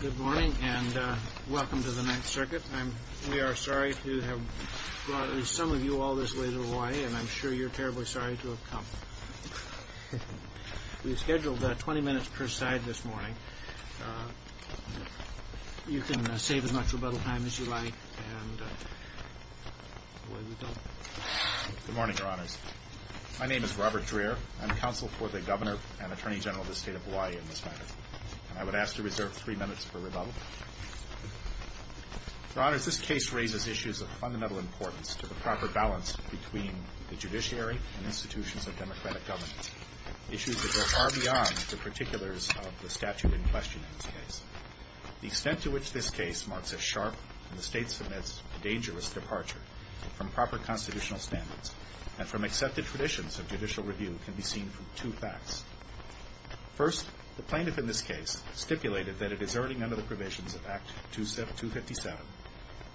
Good morning and welcome to the Ninth Circuit. We are sorry to have brought some of you all this way to Hawaii, and I'm sure you're terribly sorry to have come. We've scheduled 20 minutes per side this morning. You can save as much rebuttal time as you like. Good morning, Your Honors. My name is Robert Dreher. I'm counsel for the Governor and Attorney General of the State of Hawaii in this matter. And I would ask to reserve three minutes for rebuttal. Your Honors, this case raises issues of fundamental importance to the proper balance between the judiciary and institutions of democratic governance. Issues that go far beyond the particulars of the statute in question in this case. The extent to which this case marks a sharp and the State submits a dangerous departure from proper constitutional standards and from accepted traditions of judicial review can be seen from two facts. First, the plaintiff in this case stipulated that it is earning under the provisions of Act 257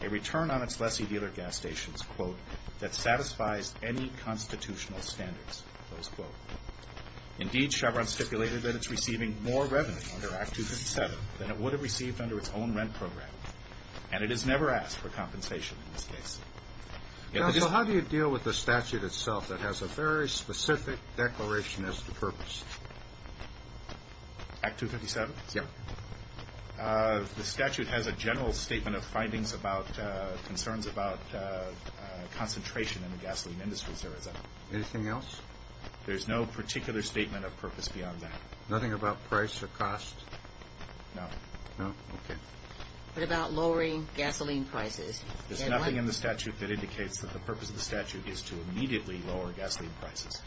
a return on its lessee-dealer gas stations, quote, that satisfies any constitutional standards, close quote. Indeed, Chevron stipulated that it's receiving more revenue under Act 257 than it would have received under its own rent program, and it has never asked for compensation in this case. So how do you deal with the statute itself that has a very specific declaration as to purpose? Act 257? Yeah. The statute has a general statement of findings about concerns about concentration in the gasoline industry, sir. Anything else? There's no particular statement of purpose beyond that. Nothing about price or cost? No. No? Okay. What about lowering gasoline prices? There's nothing in the statute that indicates that the purpose of the statute is to immediately lower gasoline prices.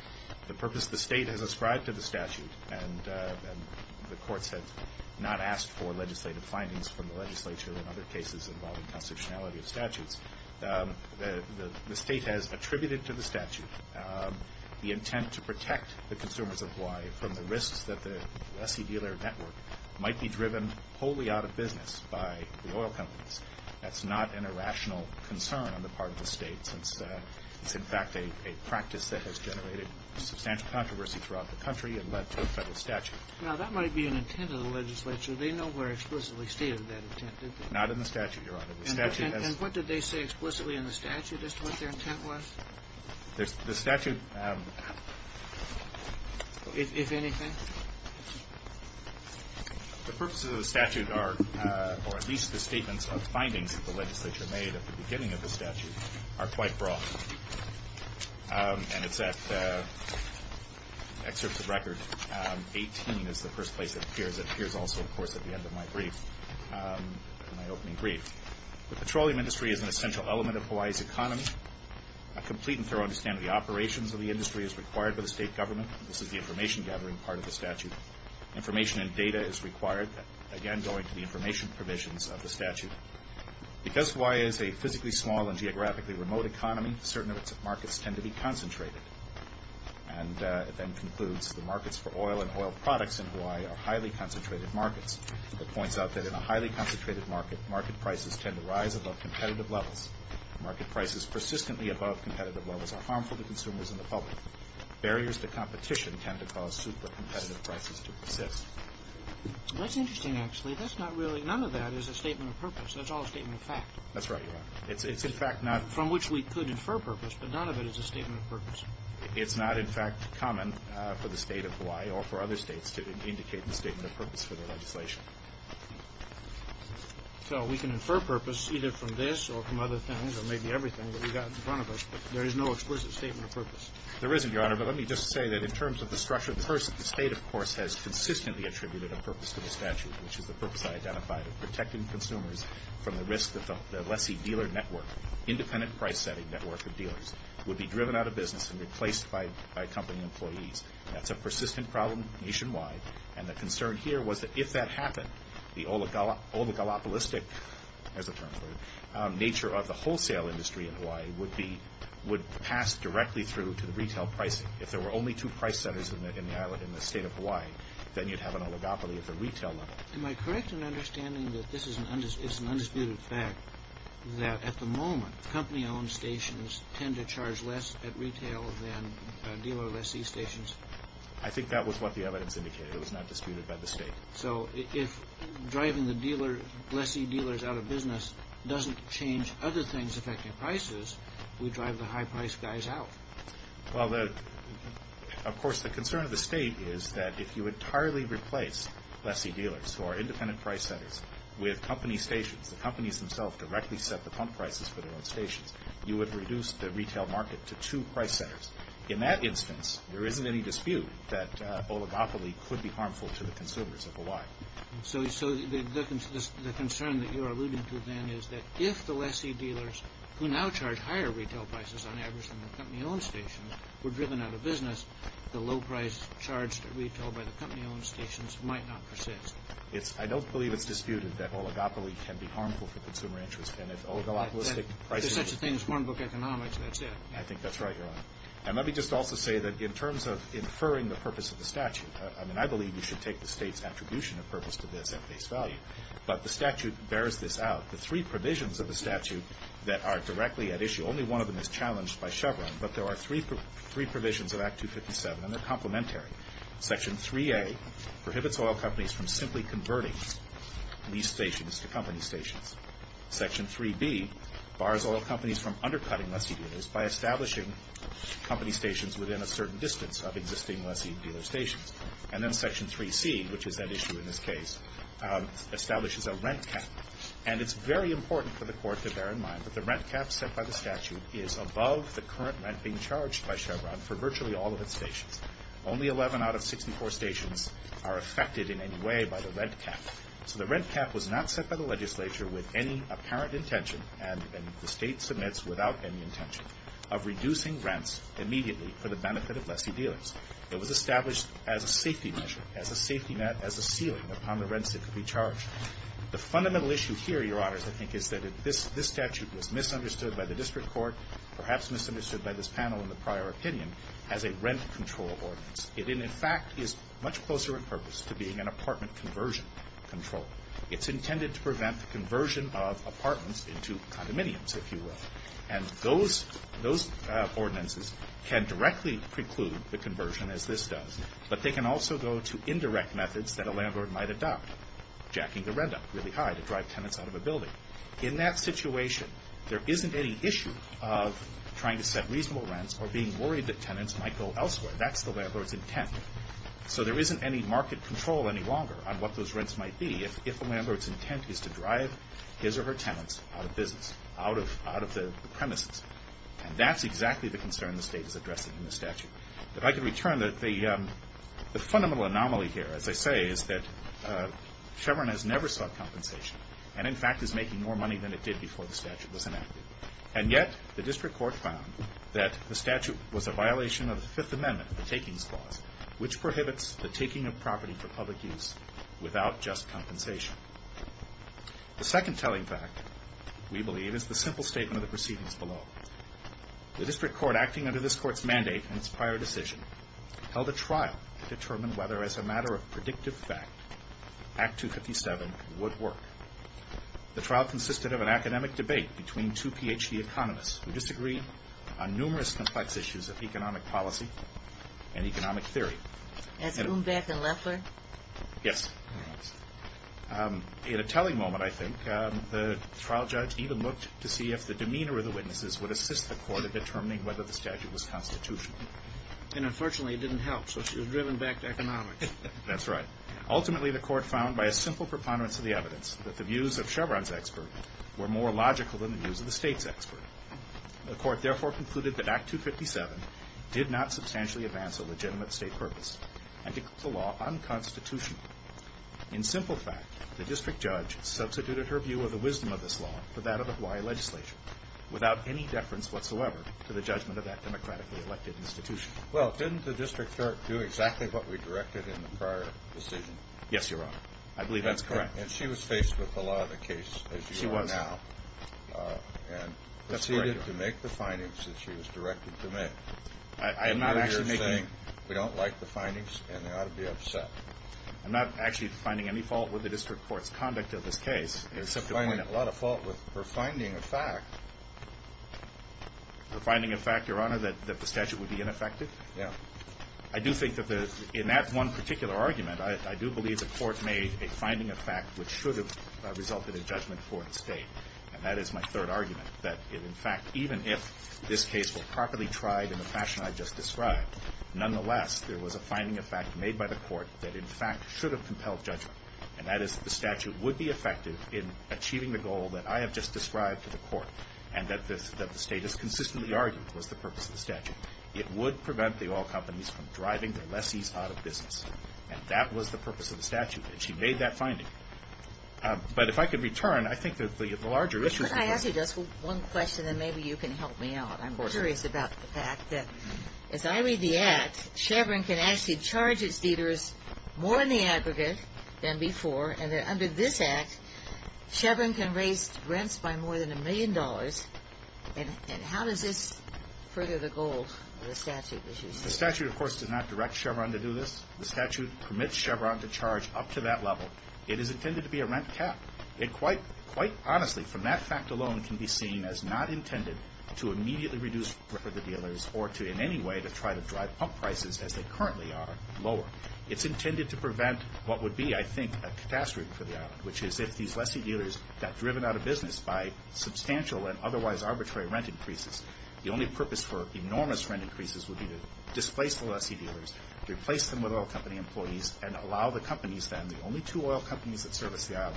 The purpose the State has ascribed to the statute, and the courts have not asked for legislative findings from the legislature in other cases involving constitutionality of statutes, the State has attributed to the statute the intent to protect the consumers of Hawaii from the risks that the lessee-dealer network might be driven wholly out of business by the oil companies. That's not an irrational concern on the part of the State, since it's in fact a practice that has generated substantial controversy throughout the country and led to a Federal statute. Now, that might be an intent of the legislature. They nowhere explicitly stated that intent, did they? Not in the statute, Your Honor. And what did they say explicitly in the statute as to what their intent was? The statute... If anything? The purposes of the statute are, or at least the statements of findings that the legislature made at the beginning of the statute, are quite broad. And it's at excerpts of record 18 is the first place it appears. It appears also, of course, at the end of my brief, my opening brief. The petroleum industry is an essential element of Hawaii's economy. A complete and thorough understanding of the operations of the industry is required by the State government. This is the information-gathering part of the statute. Information and data is required, again going to the information provisions of the statute. Because Hawaii is a physically small and geographically remote economy, certain markets tend to be concentrated. And it then concludes, the markets for oil and oil products in Hawaii are highly concentrated markets. It points out that in a highly concentrated market, market prices tend to rise above competitive levels. Market prices persistently above competitive levels are harmful to consumers and the public. Barriers to competition tend to cause super-competitive prices to persist. That's interesting, actually. That's not really, none of that is a statement of purpose. That's all a statement of fact. That's right, Your Honor. It's in fact not. From which we could infer purpose, but none of it is a statement of purpose. It's not, in fact, common for the State of Hawaii or for other states to indicate the statement of purpose for the legislation. So we can infer purpose either from this or from other things or maybe everything that we've got in front of us. But there is no explicit statement of purpose. There isn't, Your Honor, but let me just say that in terms of the structure of the person, the State, of course, has consistently attributed a purpose to the statute, which is the purpose I identified of protecting consumers from the risk that the lessee-dealer network, independent price-setting network of dealers, would be driven out of business and replaced by company employees. That's a persistent problem nationwide. And the concern here was that if that happened, the oligopolistic, as a term for it, nature of the wholesale industry in Hawaii would pass directly through to the retail pricing. If there were only two price centers in the state of Hawaii, then you'd have an oligopoly at the retail level. Am I correct in understanding that this is an undisputed fact, that at the moment company-owned stations tend to charge less at retail than dealer lessee stations? I think that was what the evidence indicated. It was not disputed by the State. So if driving the lessee-dealers out of business doesn't change other things affecting prices, we drive the high-priced guys out. Well, of course, the concern of the State is that if you entirely replace lessee-dealers, who are independent price-setters, with company stations, the companies themselves directly set the pump prices for their own stations, you would reduce the retail market to two price centers. In that instance, there isn't any dispute that oligopoly could be harmful to the consumers of Hawaii. So the concern that you're alluding to, then, is that if the lessee-dealers, who now charge higher retail prices on average than the company-owned stations, were driven out of business, the low-priced, charged retail by the company-owned stations might not persist. I don't believe it's disputed that oligopoly can be harmful for consumer interest. And if oligopolistic prices... If there's such a thing as hornbook economics, that's it. I think that's right, Your Honor. And let me just also say that in terms of inferring the purpose of the statute, I mean, I believe we should take the State's attribution of purpose to this at face value. But the statute bears this out. The three provisions of the statute that are directly at issue, only one of them is challenged by Chevron, but there are three provisions of Act 257, and they're complementary. Section 3A prohibits oil companies from simply converting these stations to company stations. Section 3B bars oil companies from undercutting lessee-dealers by establishing company stations within a certain distance of existing lessee-dealer stations. And then Section 3C, which is at issue in this case, establishes a rent cap. And it's very important for the Court to bear in mind that the rent cap set by the statute is above the current rent being charged by Chevron for virtually all of its stations. Only 11 out of 64 stations are affected in any way by the rent cap. So the rent cap was not set by the legislature with any apparent intention, and the State submits without any intention, of reducing rents immediately for the benefit of lessee-dealers. It was established as a safety measure, as a safety net, as a ceiling upon the rents that could be charged. The fundamental issue here, Your Honors, I think, is that this statute was misunderstood by the district court, perhaps misunderstood by this panel in the prior opinion, as a rent control ordinance. It, in fact, is much closer in purpose to being an apartment conversion control. It's intended to prevent the conversion of apartments into condominiums, if you will. And those ordinances can directly preclude the conversion, as this does, but they can also go to indirect methods that a landlord might adopt, jacking the rent up really high to drive tenants out of a building. In that situation, there isn't any issue of trying to set reasonable rents or being worried that tenants might go elsewhere. That's the landlord's intent. So there isn't any market control any longer on what those rents might be if the landlord's intent is to drive his or her tenants out of business, out of the premises. And that's exactly the concern the State is addressing in the statute. If I could return, the fundamental anomaly here, as I say, is that Chevron has never sought compensation and, in fact, is making more money than it did before the statute was enacted. And yet the District Court found that the statute was a violation of the Fifth Amendment, the takings clause, which prohibits the taking of property for public use without just compensation. The second telling fact, we believe, is the simple statement of the proceedings below. The District Court, acting under this Court's mandate and its prior decision, held a trial to determine whether, as a matter of predictive fact, Act 257 would work. The trial consisted of an academic debate between two Ph.D. economists who disagreed on numerous complex issues of economic policy and economic theory. As Umbach and Leffler? Yes. In a telling moment, I think, the trial judge even looked to see if the demeanor of the witnesses would assist the Court in determining whether the statute was constitutional. And, unfortunately, it didn't help, so she was driven back to economics. That's right. Ultimately, the Court found, by a simple preponderance of the evidence, that the views of Chevron's expert were more logical than the views of the State's expert. The Court, therefore, concluded that Act 257 did not substantially advance a legitimate State purpose and declared the law unconstitutional. In simple fact, the District Judge substituted her view of the wisdom of this law for that of the Hawaii legislation, without any deference whatsoever to the judgment of that democratically elected institution. Well, didn't the District Court do exactly what we directed in the prior decision? Yes, Your Honor. I believe that's correct. And she was faced with the law of the case as you are now. She was. And proceeded to make the findings that she was directed to make. I am not actually making... I know you're saying we don't like the findings, and I ought to be upset. I'm not actually finding any fault with the District Court's conduct of this case, except to point out... You're finding a lot of fault with her finding a fact. The finding of fact, Your Honor, that the statute would be ineffective? Yeah. I do think that the... In that one particular argument, I do believe the Court made a finding of fact which should have resulted in judgment for its State. And that is my third argument. That, in fact, even if this case were properly tried in the fashion I just described, nonetheless, there was a finding of fact made by the Court that, in fact, should have compelled judgment. And that is that the statute would be effective in achieving the goal that I have just described to the Court, and that the State has consistently argued was the purpose of the statute. It would prevent the oil companies from driving their lessees out of business. And that was the purpose of the statute. And she made that finding. But if I could return, I think that the larger issue... Could I ask you just one question, and maybe you can help me out? Of course. I'm curious about the fact that, as I read the Act, Chevron can actually charge its dealers more in the aggregate than before, and that under this Act, Chevron can raise rents by more than a million dollars. And how does this further the goal of the statute, as you say? The statute, of course, does not direct Chevron to do this. The statute permits Chevron to charge up to that level. It is intended to be a rent cap. It quite honestly, from that fact alone, can be seen as not intended to immediately reduce the risk for the dealers or to in any way to try to drive up prices as they currently are lower. It's intended to prevent what would be, I think, a catastrophe for the island, which is if these lessee dealers got driven out of business by substantial and otherwise arbitrary rent increases. The only purpose for enormous rent increases would be to displace the lessee dealers, replace them with oil company employees, and allow the companies then, the only two oil companies that service the island,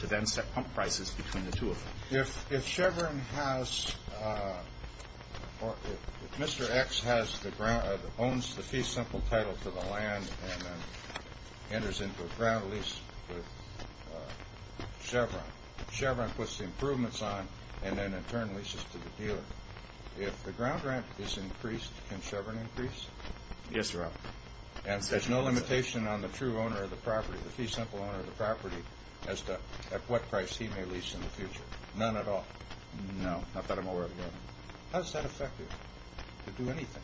to then set pump prices between the two of them. If Chevron has or if Mr. X owns the fee simple title to the land and then enters into a ground lease with Chevron, Chevron puts the improvements on and then in turn leases to the dealer. If the ground rent is increased, can Chevron increase? Yes, Your Honor. And there's no limitation on the true owner of the property, the fee simple owner of the property, as to at what price he may lease in the future? None at all? No, not that I'm aware of, Your Honor. How is that effective to do anything?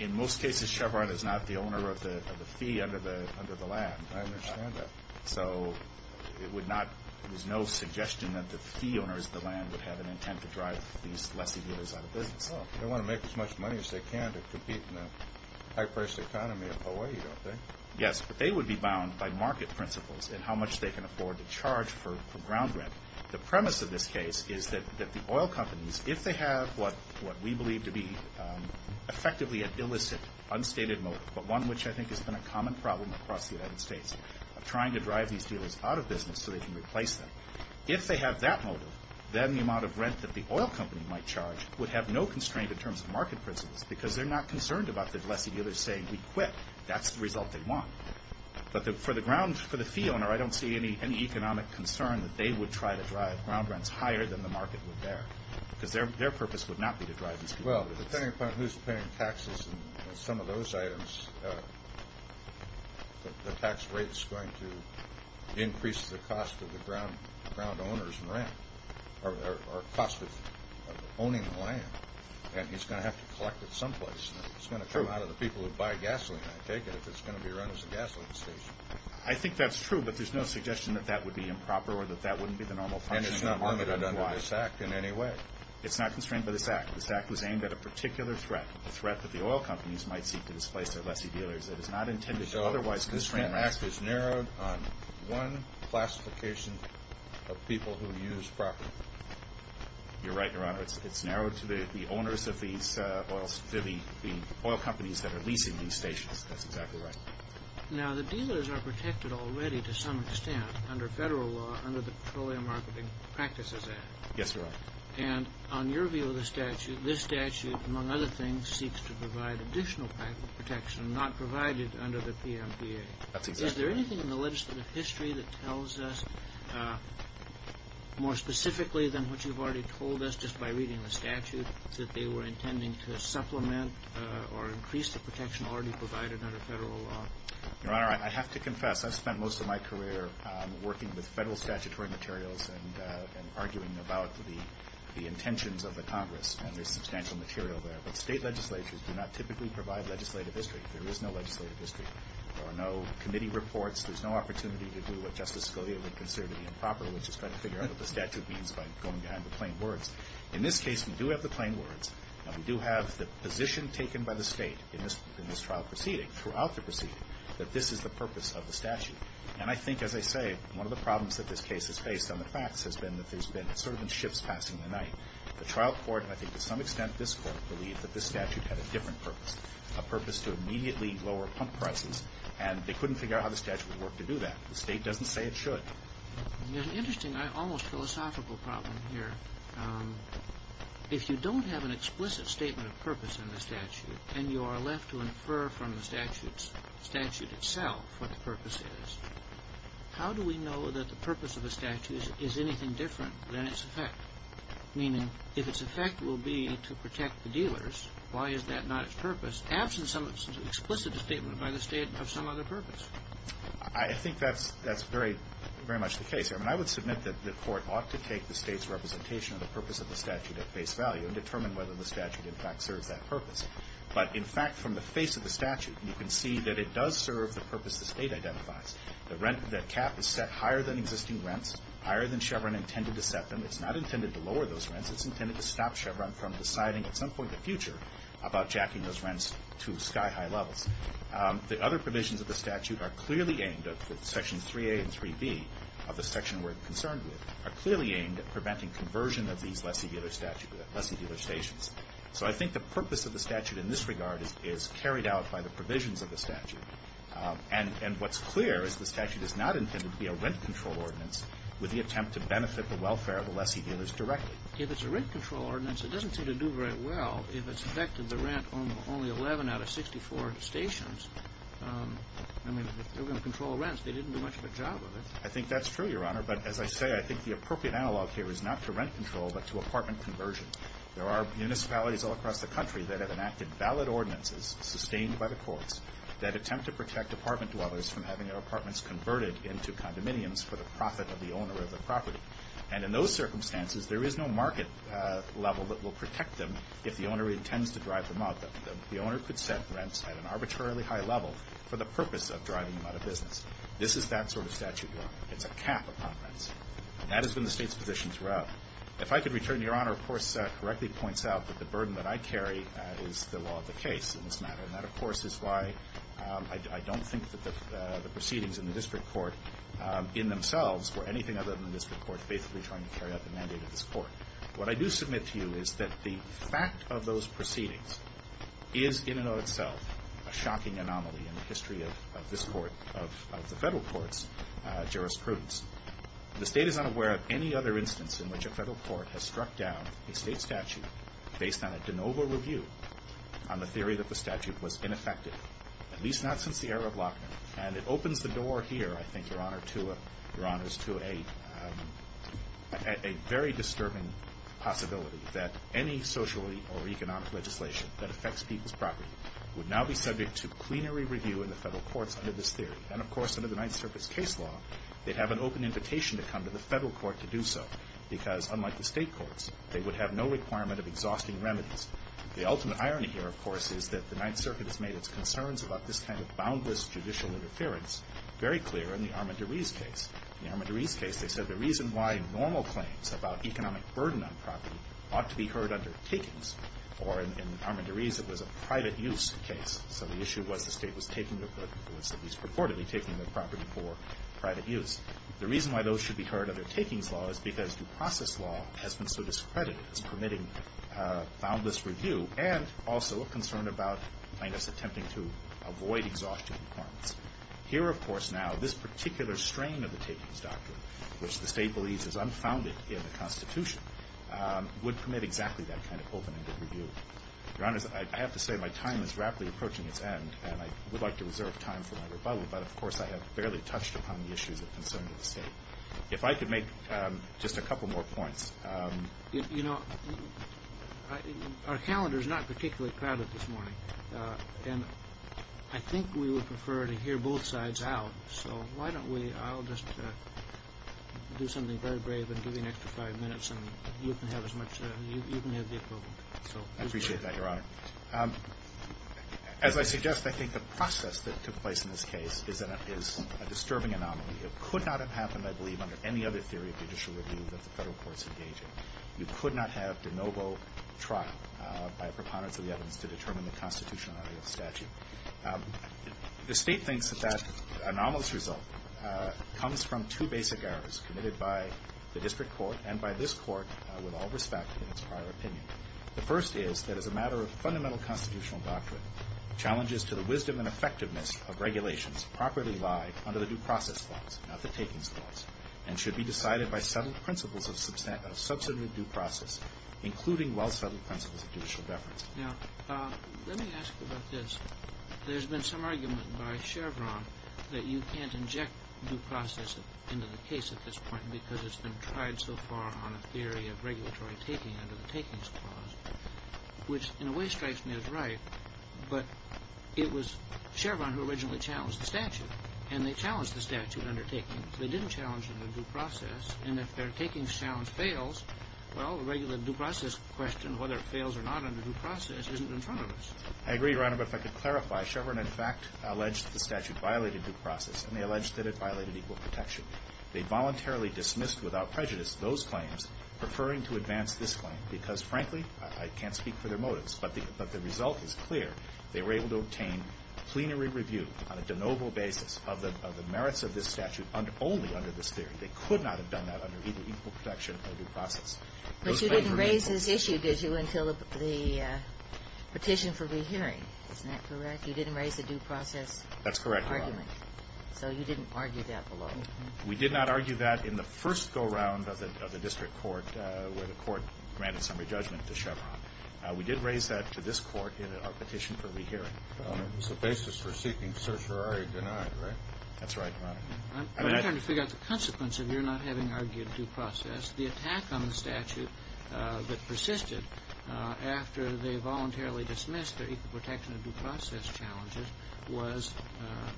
In most cases, Chevron is not the owner of the fee under the land. I understand that. So it would not, there's no suggestion that the fee owners of the land would have an intent to drive these lessee dealers out of business. Well, they want to make as much money as they can to compete in the high-priced economy of Hawaii, don't they? Yes, but they would be bound by market principles and how much they can afford to charge for ground rent. The premise of this case is that the oil companies, if they have what we believe to be effectively an illicit, unstated motive, but one which I think has been a common problem across the United States of trying to drive these dealers out of business so they can replace them, if they have that motive, then the amount of rent that the oil company might charge would have no constraint in terms of market principles because they're not concerned about the lessee dealers saying, if we quit, that's the result they want. But for the fee owner, I don't see any economic concern that they would try to drive ground rents higher than the market would bear because their purpose would not be to drive these people out of business. Well, depending upon who's paying taxes on some of those items, the tax rate is going to increase the cost of the ground owners' rent or cost of owning the land, and he's going to have to collect it someplace. It's going to come out of the people who buy gasoline, I take it, if it's going to be run as a gasoline station. I think that's true, but there's no suggestion that that would be improper or that that wouldn't be the normal functioning of the market. And it's not limited under this Act in any way. It's not constrained by this Act. This Act was aimed at a particular threat, a threat that the oil companies might seek to displace their lessee dealers. It is not intended to otherwise constrain them. So this whole Act is narrowed on one classification of people who use property. You're right, Your Honor. It's narrowed to the owners of these oil companies that are leasing these stations. That's exactly right. Now, the dealers are protected already to some extent under federal law, under the Petroleum Marketing Practices Act. Yes, Your Honor. And on your view of the statute, this statute, among other things, seeks to provide additional protection, not provide it under the PMPA. That's exactly right. Is there anything in the legislative history that tells us more specifically than what you've already told us just by reading the statute, that they were intending to supplement or increase the protection already provided under federal law? Your Honor, I have to confess, I've spent most of my career working with federal statutory materials and arguing about the intentions of the Congress, and there's substantial material there. But state legislatures do not typically provide legislative history. There is no legislative history. There are no committee reports. There's no opportunity to do what Justice Scalia would consider to be improper, which is trying to figure out what the statute means by going behind the plain words. In this case, we do have the plain words, and we do have the position taken by the state in this trial proceeding, throughout the proceeding, that this is the purpose of the statute. And I think, as I say, one of the problems that this case has faced on the facts has been that there's been sort of been ships passing the night. The trial court, and I think to some extent this court, believed that this statute had a different purpose, a purpose to immediately lower pump prices, and they couldn't figure out how the statute would work to do that. The state doesn't say it should. There's an interesting, almost philosophical problem here. If you don't have an explicit statement of purpose in the statute, and you are left to infer from the statute itself what the purpose is, how do we know that the purpose of the statute is anything different than its effect? Meaning, if its effect will be to protect the dealers, why is that not its purpose, absent some explicit statement by the state of some other purpose? I think that's very much the case. I mean, I would submit that the court ought to take the state's representation of the purpose of the statute at face value and determine whether the statute, in fact, serves that purpose. But, in fact, from the face of the statute, you can see that it does serve the purpose the state identifies. The cap is set higher than existing rents, higher than Chevron intended to set them. It's not intended to lower those rents. It's intended to stop Chevron from deciding at some point in the future about jacking those rents to sky-high levels. The other provisions of the statute are clearly aimed, Section 3A and 3B of the section we're concerned with, are clearly aimed at preventing conversion of these lessee-dealer statutes, lessee-dealer stations. So I think the purpose of the statute in this regard is carried out by the provisions of the statute. And what's clear is the statute is not intended to be a rent-control ordinance with the attempt to benefit the welfare of the lessee-dealers directly. If it's a rent-control ordinance, it doesn't seem to do very well if it's effective to rent only 11 out of 64 stations. I mean, if they're going to control rents, they didn't do much of a job of it. I think that's true, Your Honor. But as I say, I think the appropriate analog here is not to rent control but to apartment conversion. There are municipalities all across the country that have enacted valid ordinances sustained by the courts that attempt to protect apartment dwellers from having their apartments converted into condominiums for the profit of the owner of the property. And in those circumstances, there is no market level that will protect them if the owner intends to drive them out. The owner could set rents at an arbitrarily high level for the purpose of driving them out of business. This is that sort of statute, Your Honor. It's a cap upon rents. And that is when the State's positions were up. If I could return to Your Honor, of course, correctly points out that the burden that I carry is the law of the case in this matter. And that, of course, is why I don't think that the proceedings in the district court in themselves were anything other than the district court faithfully trying to carry out the mandate of this Court. What I do submit to you is that the fact of those proceedings is in and of itself a shocking anomaly in the history of this Court, of the Federal Court's jurisprudence. The State is unaware of any other instance in which a Federal Court has struck down a State statute based on a de novo review on the theory that the statute was ineffective, at least not since the era of Lochner. And it opens the door here, I think, Your Honor, to a very disturbing possibility that any socially or economic legislation that affects people's property would now be subject to plenary review in the Federal Courts under this theory. And, of course, under the Ninth Circuit's case law, they'd have an open invitation to come to the Federal Court to do so because, unlike the State courts, they would have no requirement of exhausting remedies. The ultimate irony here, of course, is that the Ninth Circuit has made its concerns about this kind of boundless judicial interference very clear in the Armand de Ries case. In the Armand de Ries case, they said the reason why normal claims about economic burden on property ought to be heard under takings, or in Armand de Ries it was a private use case, so the issue was the State was taking their property, was at least purportedly taking their property for private use. The reason why those should be heard under takings law is because due process law has been so discredited as permitting boundless review and also a concern about, I guess, attempting to avoid exhaustion requirements. Here, of course, now, this particular strain of the takings doctrine, which the State believes is unfounded in the Constitution, would permit exactly that kind of open-ended review. Your Honors, I have to say my time is rapidly approaching its end, and I would like to reserve time for my rebuttal, but, of course, I have barely touched upon the issues of concern to the State. If I could make just a couple more points. You know, our calendar is not particularly crowded this morning, and I think we would prefer to hear both sides out, so why don't we, I'll just do something very brave and give you an extra five minutes, and you can have as much, you can have the equivalent. I appreciate that, Your Honor. As I suggest, I think the process that took place in this case is a disturbing anomaly. It could not have happened, I believe, under any other theory of judicial review that the Federal courts engage in. You could not have de novo trial by a preponderance of the evidence to determine the constitutionality of the statute. The State thinks that that anomalous result comes from two basic errors committed by the district court and by this court with all respect in its prior opinion. The first is that as a matter of fundamental constitutional doctrine, challenges to the wisdom and effectiveness of regulations properly lie under the due process laws, not the takings laws, and should be decided by settled principles of substantive due process, including well-settled principles of judicial deference. Now, let me ask you about this. There's been some argument by Chevron that you can't inject due process into the case at this point because it's been tried so far on a theory of regulatory taking under the takings clause, which in a way strikes me as right, but it was Chevron who originally challenged the statute, and they challenged the statute under takings. They didn't challenge it under due process, and if their takings challenge fails, well, the regular due process question, whether it fails or not under due process, isn't in front of us. I agree, Your Honor, but if I could clarify, Chevron in fact alleged the statute violated due process, and they alleged that it violated equal protection. They voluntarily dismissed without prejudice those claims, preferring to advance this claim because, frankly, I can't speak for their motives, but the result is clear. They were able to obtain plenary review on a de novo basis of the merits of this statute only under this theory. They could not have done that under either equal protection or due process. But you didn't raise this issue, did you, until the petition for rehearing. Isn't that correct? You didn't raise the due process argument. That's correct, Your Honor. So you didn't argue that below? We did not argue that in the first go-round of the district court, where the court granted summary judgment to Chevron. We did raise that to this Court in our petition for rehearing. Well, it was the basis for seeking certiorari denied, right? That's right, Your Honor. I'm trying to figure out the consequence of your not having argued due process. The attack on the statute that persisted after they voluntarily dismissed their equal protection and due process challenges was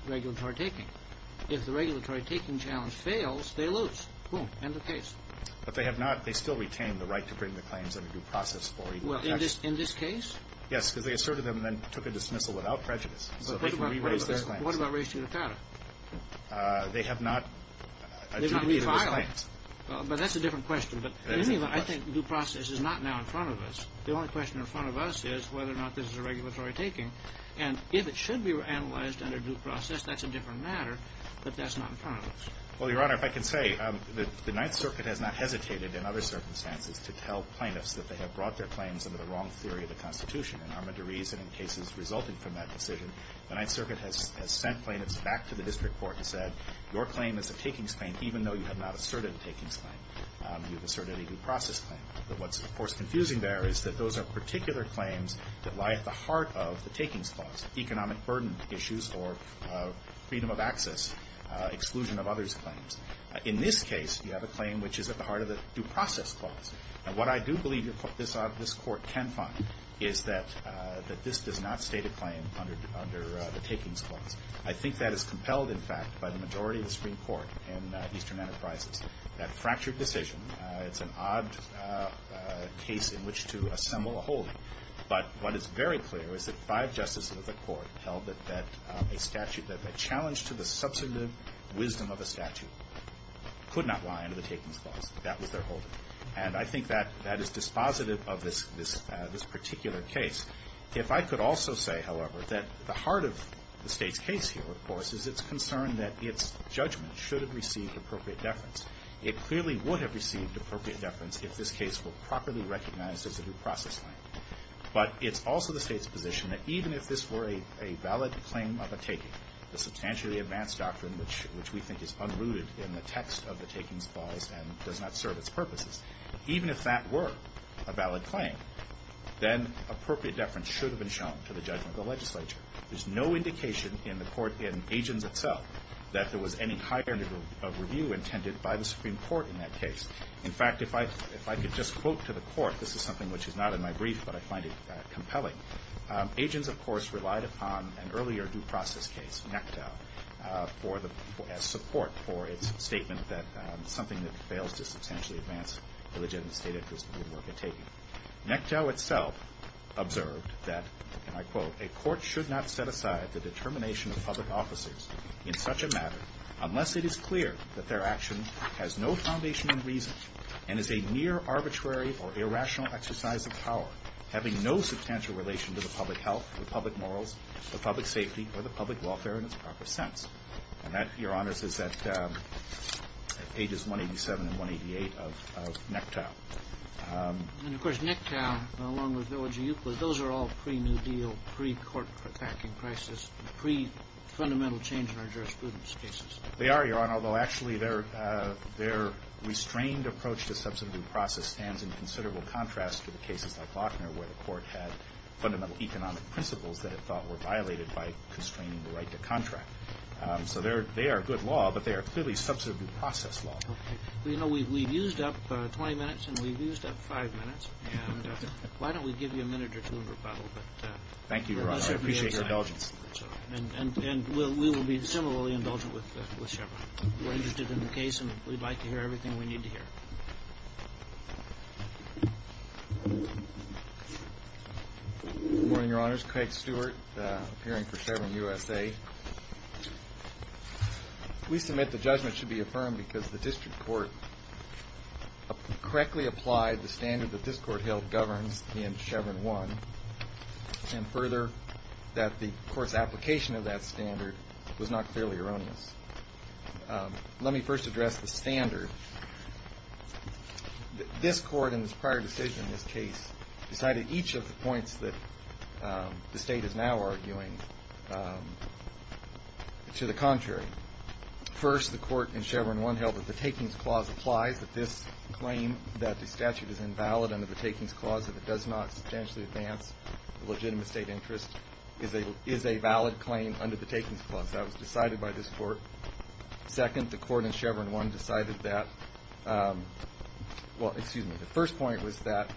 regulatory taking. If the regulatory taking challenge fails, they lose. Boom. End of case. But they have not – they still retain the right to bring the claims under due process for equal protection. Well, in this case? Yes, because they asserted them and then took a dismissal without prejudice. So they can re-raise those claims. What about race to the counter? They have not adjudicated those claims. They have not reviled them. But that's a different question. But in any event, I think due process is not now in front of us. The only question in front of us is whether or not this is a regulatory taking. And if it should be analyzed under due process, that's a different matter. But that's not in front of us. Well, Your Honor, if I can say, the Ninth Circuit has not hesitated in other circumstances to tell plaintiffs that they have brought their claims under the wrong theory of the Constitution. And I'm going to reason in cases resulting from that decision, the Ninth Circuit has sent plaintiffs back to the district court and said, your claim is a takings claim. You've asserted a due process claim. But what's, of course, confusing there is that those are particular claims that lie at the heart of the takings clause, economic burden issues or freedom of access, exclusion of others claims. In this case, you have a claim which is at the heart of the due process clause. And what I do believe this Court can find is that this does not state a claim under the takings clause. I think that is compelled, in fact, by the majority of the Supreme Court in Eastern Enterprises. That fractured decision, it's an odd case in which to assemble a holding. But what is very clear is that five justices of the Court held that a statute that had challenged to the substantive wisdom of a statute could not lie under the takings clause. That was their holding. And I think that is dispositive of this particular case. If I could also say, however, that the heart of the State's case here, of course, is its concern that its judgment should have received appropriate deference. It clearly would have received appropriate deference if this case were properly recognized as a due process claim. But it's also the State's position that even if this were a valid claim of a taking, the substantially advanced doctrine which we think is unrooted in the text of the takings clause and does not serve its purposes, even if that were a valid claim, then appropriate deference should have been shown to the judgment of the legislature. There's no indication in the Court, in Agents itself, that there was any higher degree of review intended by the Supreme Court in that case. In fact, if I could just quote to the Court, this is something which is not in my brief, but I find it compelling. Agents, of course, relied upon an earlier due process case, Nectow, as support for its statement that something that fails to substantially advance the legitimate State interest would be worth a taking. Nectow itself observed that, and I quote, a court should not set aside the determination of public officers in such a matter unless it is clear that their action has no foundation in reason and is a mere arbitrary or irrational exercise of power, having no substantial relation to the public health, the public morals, the public safety, or the public welfare in its proper sense. And that, Your Honors, is at pages 187 and 188 of Nectow. And, of course, Nectow, along with Village of Euclid, those are all pre-New Deal, pre-court attacking crisis, pre-fundamental change in our jurisprudence cases. They are, Your Honor, although actually their restrained approach to substantive due process stands in considerable contrast to the cases like Lochner where the Court had fundamental economic principles that it thought were violated by constraining the right to contract. So they are good law, but they are clearly substantive due process law. Okay. Well, you know, we've used up 20 minutes, and we've used up five minutes. And why don't we give you a minute or two in rebuttal? Thank you, Your Honor. I appreciate your indulgence. And we will be similarly indulgent with Chevron. We're interested in the case, and we'd like to hear everything we need to hear. Good morning, Your Honors. Craig Stewart, appearing for Chevron USA. We submit the judgment should be affirmed because the district court correctly applied the standard that this Court held governs in Chevron 1, and further, that the Court's application of that standard was not clearly erroneous. Let me first address the standard. This Court, in its prior decision in this case, decided each of the points that the State is now arguing should be affirmed. To the contrary, first, the Court in Chevron 1 held that the takings clause applies, that this claim that the statute is invalid under the takings clause, that it does not substantially advance the legitimate State interest, is a valid claim under the takings clause. That was decided by this Court. Second, the Court in Chevron 1 decided that the first point was that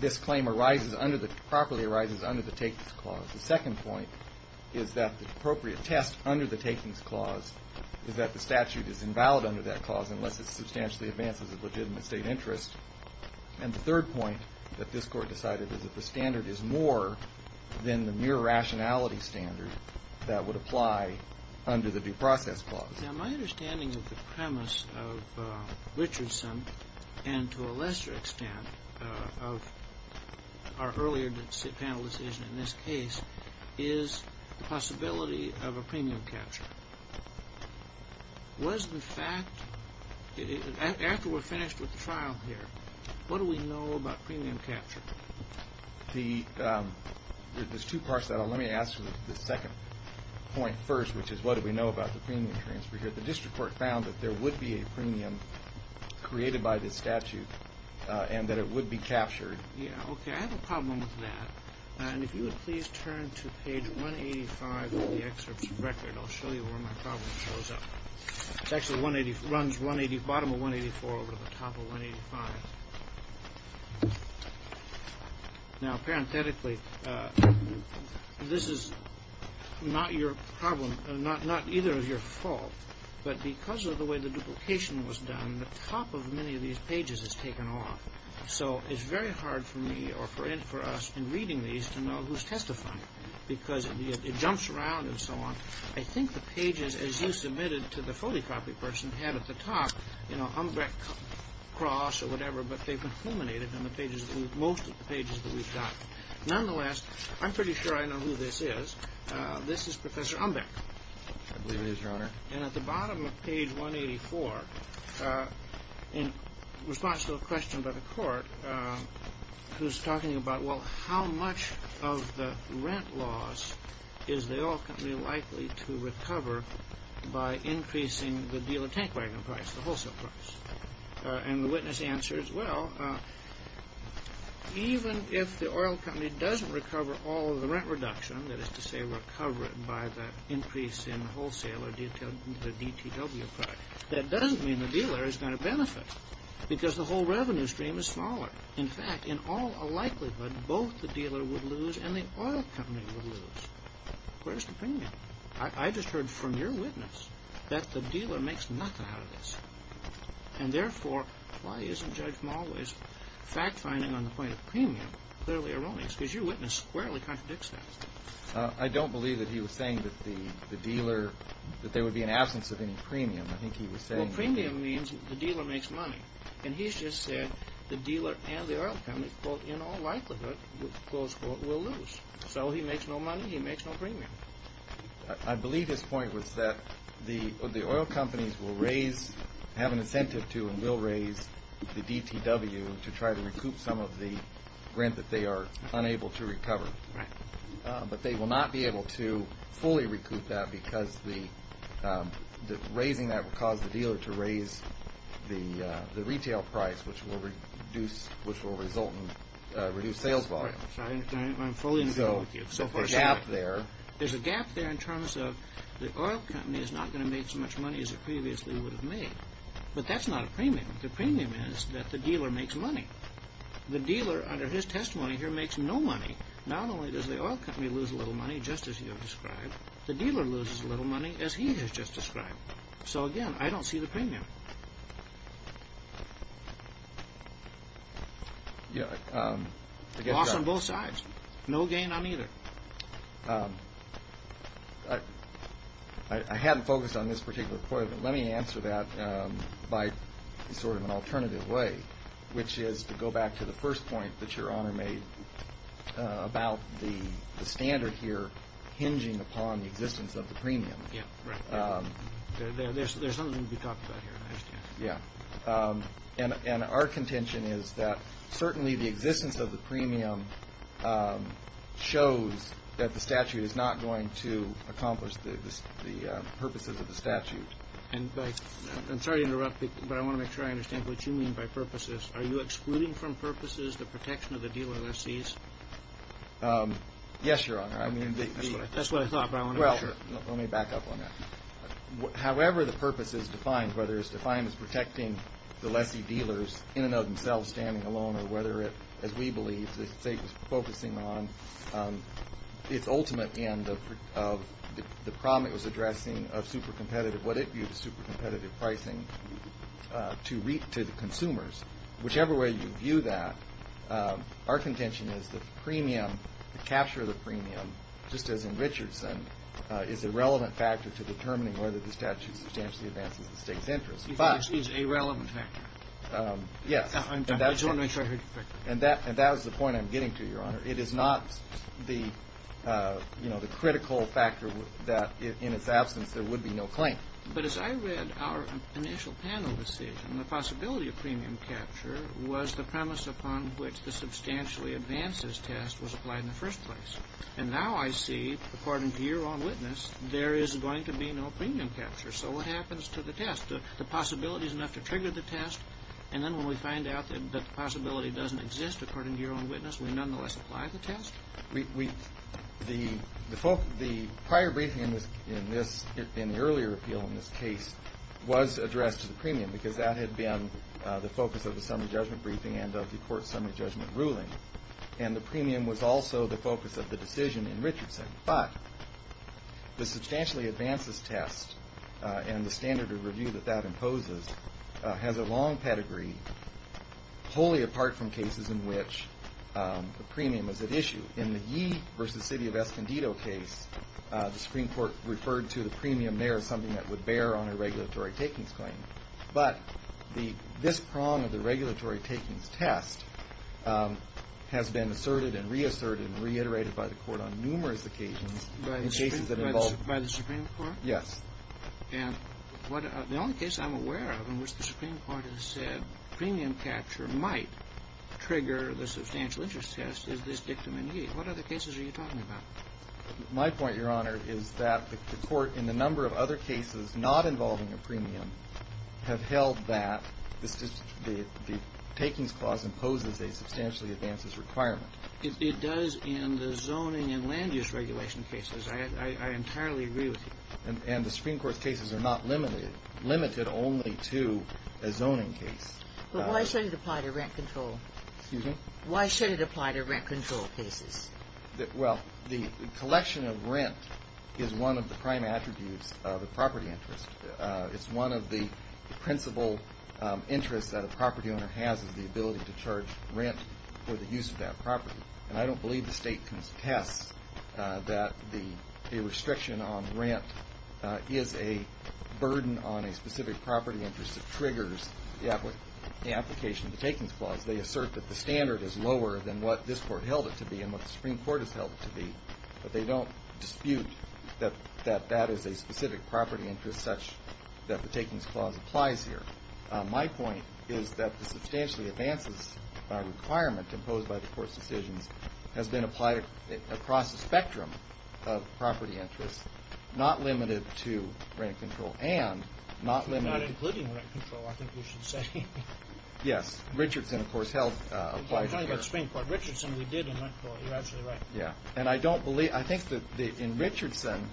this claim properly arises under the takings clause. The second point is that the appropriate test under the takings clause is that the statute is invalid under that clause unless it substantially advances the legitimate State interest. And the third point that this Court decided is that the standard is more than the mere rationality standard that would apply under the due process clause. Now, my understanding of the premise of Richardson and, to a lesser extent, of our earlier panel decision in this case, is the possibility of a premium capture. Was the fact, after we're finished with the trial here, what do we know about premium capture? There's two parts to that. Let me ask the second point first, which is what do we know about the premium transfer here. The district court found that there would be a premium created by this statute and that it would be captured. Yeah, okay, I have a problem with that. And if you would please turn to page 185 of the excerpt's record, I'll show you where my problem shows up. It actually runs bottom of 184 over the top of 185. Now, parenthetically, this is not either of your fault, but because of the way the duplication was done, the top of many of these pages is taken off. So it's very hard for me or for us in reading these to know who's testifying because it jumps around and so on. I think the pages, as you submitted to the photocopy person, had at the top, you know, Umbeck, Cross, or whatever, but they've been culminated in most of the pages that we've got. Nonetheless, I'm pretty sure I know who this is. This is Professor Umbeck. I believe it is, Your Honor. And at the bottom of page 184, in response to a question by the court, who's talking about, well, how much of the rent loss is the oil company likely to recover by increasing the deal of tank wagon price, the wholesale price? And the witness answers, well, even if the oil company doesn't recover all of the rent reduction, that is to say recover it by the increase in wholesale or the DTW price, that doesn't mean the dealer is going to benefit because the whole revenue stream is smaller. In fact, in all likelihood, both the dealer would lose and the oil company would lose. Where's the premium? I just heard from your witness that the dealer makes nothing out of this. And therefore, why isn't Judge Malwais fact-finding on the point of premium clearly erroneous? Because your witness squarely contradicts that. I don't believe that he was saying that the dealer, that there would be an absence of any premium. I think he was saying that. Well, premium means the dealer makes money. And he's just said the dealer and the oil company, quote, in all likelihood, close quote, will lose. So he makes no money, he makes no premium. I believe his point was that the oil companies will raise, have an incentive to and will raise the DTW to try to recoup some of the rent that they are unable to recover. Right. But they will not be able to fully recoup that because raising that will cause the dealer to raise the retail price, which will result in reduced sales volume. Right. I'm fully in agreement with you. So there's a gap there. There's a gap there in terms of the oil company is not going to make as much money as it previously would have made. But that's not a premium. The premium is that the dealer makes money. The dealer, under his testimony here, makes no money. Not only does the oil company lose a little money, just as you have described, the dealer loses a little money, as he has just described. So, again, I don't see the premium. Loss on both sides. No gain on either. I haven't focused on this particular point, but let me answer that by sort of an alternative way, which is to go back to the first point that Your Honor made about the standard here hinging upon the existence of the premium. Yeah, right. There's something to be talked about here. Yeah. And our contention is that certainly the existence of the premium shows that the statute is not going to accomplish the purposes of the statute. And I'm sorry to interrupt, but I want to make sure I understand what you mean by purposes. Are you excluding from purposes the protection of the dealer lessees? Yes, Your Honor. That's what I thought, but I want to make sure. Well, let me back up on that. However the purpose is defined, whether it's defined as protecting the lessee dealers in and of themselves, or whether it, as we believe, the state is focusing on its ultimate end of the problem it was addressing of super competitive, what it viewed as super competitive pricing to the consumers. Whichever way you view that, our contention is the premium, the capture of the premium, just as in Richardson, is a relevant factor to determining whether the statute substantially advances the state's interest. You think it's a relevant factor? Yes. I just want to make sure I heard you correctly. And that is the point I'm getting to, Your Honor. It is not the critical factor that in its absence there would be no claim. But as I read our initial panel decision, the possibility of premium capture was the premise upon which the substantially advances test was applied in the first place. And now I see, according to your own witness, there is going to be no premium capture. So what happens to the test? The possibility is enough to trigger the test. And then when we find out that the possibility doesn't exist, according to your own witness, we nonetheless apply the test? The prior briefing in this, in the earlier appeal in this case, was addressed to the premium because that had been the focus of the summary judgment briefing and of the court summary judgment ruling. And the premium was also the focus of the decision in Richardson. But the substantially advances test and the standard of review that that imposes has a long pedigree, wholly apart from cases in which a premium is at issue. In the Yee v. City of Escondido case, the Supreme Court referred to the premium there as something that would bear on a regulatory takings claim. But this prong of the regulatory takings test has been asserted and reasserted and reiterated by the Court on numerous occasions. By the Supreme Court? Yes. And the only case I'm aware of in which the Supreme Court has said premium capture might trigger the substantial interest test is this dictum in Yee. What other cases are you talking about? My point, Your Honor, is that the Court, in the number of other cases not involving a premium, have held that the takings clause imposes a substantially advances requirement. It does in the zoning and land use regulation cases. I entirely agree with you. And the Supreme Court's cases are not limited only to a zoning case. But why should it apply to rent control? Excuse me? Why should it apply to rent control cases? Well, the collection of rent is one of the prime attributes of a property interest. It's one of the principal interests that a property owner has is the ability to charge rent for the use of that property. And I don't believe the State can test that the restriction on rent is a burden on a specific property interest that triggers the application of the takings clause. They assert that the standard is lower than what this Court held it to be and what the Supreme Court has held it to be. But they don't dispute that that is a specific property interest such that the takings clause applies here. My point is that the substantially advances requirement imposed by the Court's decisions has been applied across a spectrum of property interests, not limited to rent control and not limited to rent control. Not including rent control, I think you should say. Yes. Richardson, of course, held it applies here. I'm talking about the Supreme Court. Richardson, we did in rent control. You're absolutely right. Yeah. And I don't believe – I think that in Richardson,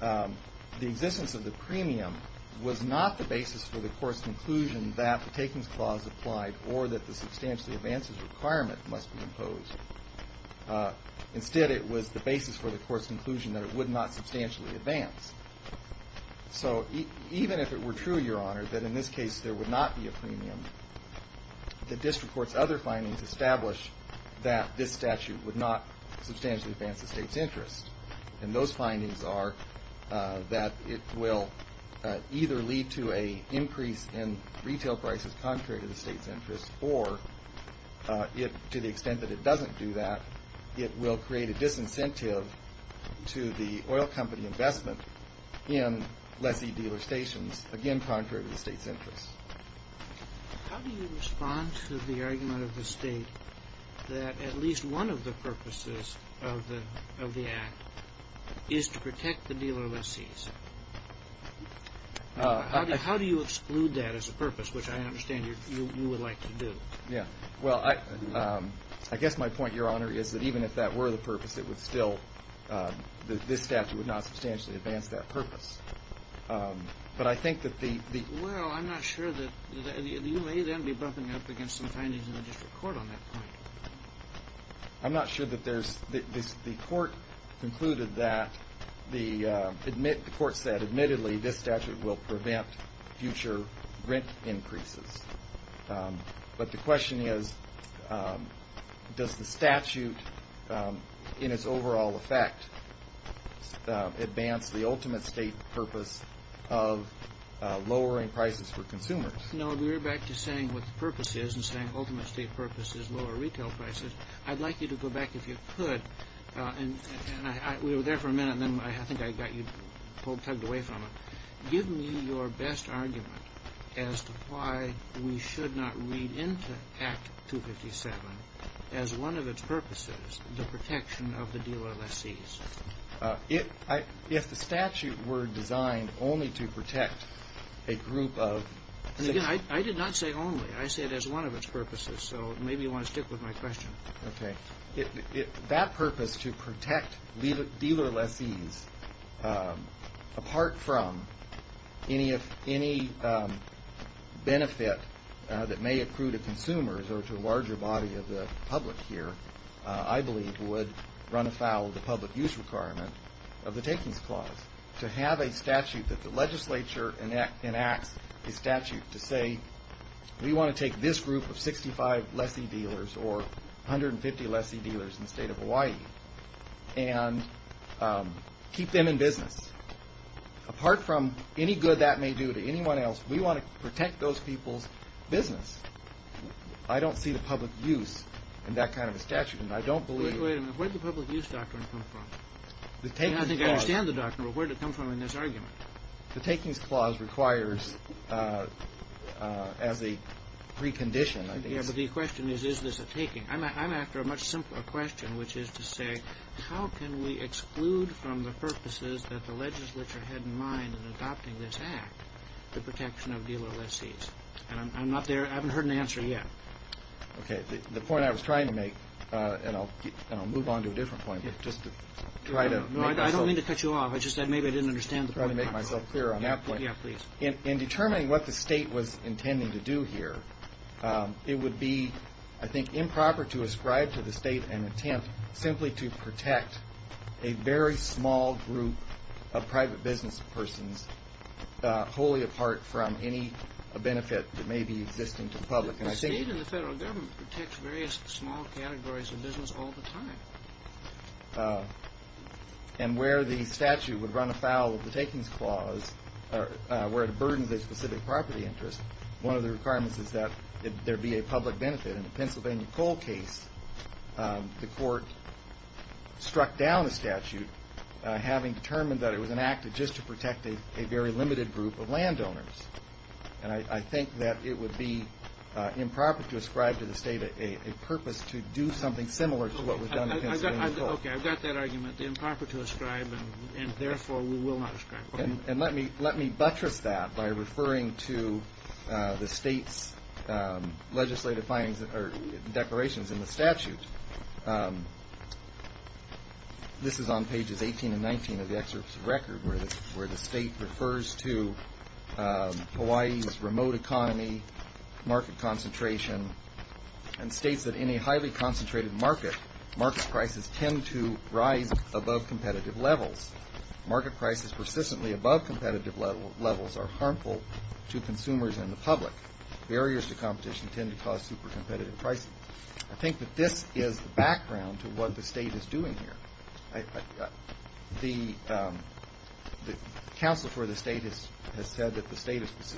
the existence of the premium was not the basis for the Court's conclusion that the takings clause applied or that the substantially advances requirement must be imposed. Instead, it was the basis for the Court's conclusion that it would not substantially advance. So even if it were true, Your Honor, that in this case there would not be a premium, the district court's other findings establish that this statute would not substantially advance the State's interest. And those findings are that it will either lead to an increase in retail prices contrary to the State's interest or, to the extent that it doesn't do that, it will create a disincentive to the oil company investment in lessee dealer stations, again contrary to the State's interest. How do you respond to the argument of the State that at least one of the purposes of the Act is to protect the dealer lessees? How do you exclude that as a purpose, which I understand you would like to do? Yeah. Well, I guess my point, Your Honor, is that even if that were the purpose, it would still – this statute would not substantially advance that purpose. But I think that the – Well, I'm not sure that – you may then be bumping up against some findings in the district court on that point. I'm not sure that there's – the Court concluded that the – the Court said, admittedly, this statute will prevent future rent increases. But the question is, does the statute in its overall effect advance the ultimate State purpose of lowering prices for consumers? No, but you're back to saying what the purpose is and saying the ultimate State purpose is lower retail prices. I'd like you to go back, if you could, and we were there for a minute, and then I think I got you tugged away from it. Give me your best argument as to why we should not read into Act 257 as one of its purposes the protection of the dealer lessees. If the statute were designed only to protect a group of – Again, I did not say only. I said as one of its purposes, so maybe you want to stick with my question. Okay. That purpose to protect dealer lessees, apart from any benefit that may accrue to consumers or to a larger body of the public here, I believe would run afoul of the public use requirement of the Takings Clause to have a statute that the legislature enacts a statute to say, we want to take this group of 65 lessee dealers or 150 lessee dealers in the State of Hawaii and keep them in business. Apart from any good that may do to anyone else, we want to protect those people's business. I don't see the public use in that kind of a statute, and I don't believe – Wait a minute. Where did the public use doctrine come from? I think I understand the doctrine, but where did it come from in this argument? The Takings Clause requires as a precondition – Yes, but the question is, is this a taking? I'm after a much simpler question, which is to say, how can we exclude from the purposes that the legislature had in mind in adopting this Act the protection of dealer lessees? I'm not there. I haven't heard an answer yet. Okay. The point I was trying to make, and I'll move on to a different point, but just to try to make myself – No, I don't mean to cut you off. I just said maybe I didn't understand the point. I'm trying to make myself clear on that point. Yeah, please. In determining what the state was intending to do here, it would be, I think, improper to ascribe to the state an attempt simply to protect a very small group of private businesspersons wholly apart from any benefit that may be existing to the public. The state and the federal government protect various small categories of business all the time. And where the statute would run afoul of the Takings Clause, where it burdens a specific property interest, one of the requirements is that there be a public benefit. In the Pennsylvania coal case, the court struck down the statute, having determined that it was enacted just to protect a very limited group of landowners. And I think that it would be improper to ascribe to the state a purpose to do something similar to what was done in Pennsylvania coal. Okay, I've got that argument. Improper to ascribe, and therefore we will not ascribe. And let me buttress that by referring to the state's legislative findings or declarations in the statute. This is on pages 18 and 19 of the excerpt's record, where the state refers to Hawaii's remote economy, market concentration, and states that in a highly concentrated market, market prices tend to rise above competitive levels. Market prices persistently above competitive levels are harmful to consumers and the public. Barriers to competition tend to cause super competitive pricing. I think that this is background to what the state is doing here. The counsel for the state has said that the state has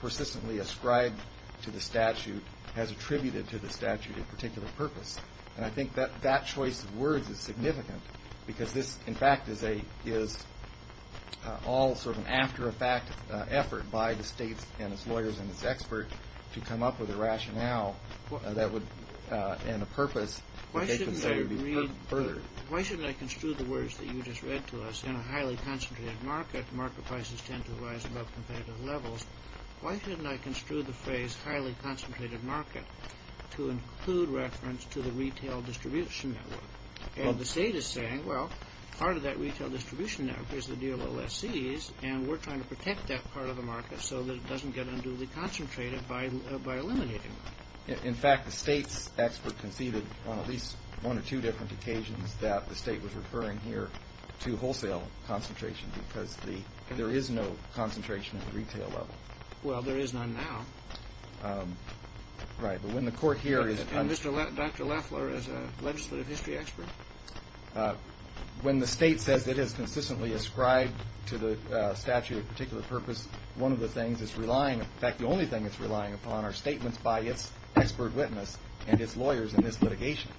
persistently ascribed to the statute, has attributed to the statute a particular purpose. And I think that choice of words is significant, because this, in fact, is all sort of an after-effect effort by the state and its lawyers and its experts to come up with a rationale and a purpose that they consider to be furthered. Why shouldn't I construe the words that you just read to us? In a highly concentrated market, market prices tend to rise above competitive levels. Why shouldn't I construe the phrase highly concentrated market to include reference to the retail distribution network? And the state is saying, well, part of that retail distribution network is the deal with lessees, and we're trying to protect that part of the market so that it doesn't get unduly concentrated by eliminating it. In fact, the state's expert conceded on at least one or two different occasions that the state was referring here to wholesale concentration because there is no concentration at the retail level. Well, there is none now. Right. But when the court here is- And Dr. Loeffler is a legislative history expert? When the state says it has consistently ascribed to the statute a particular purpose, one of the things it's relying-in fact, the only thing it's relying upon are statements by its expert witness and its lawyers in this litigation.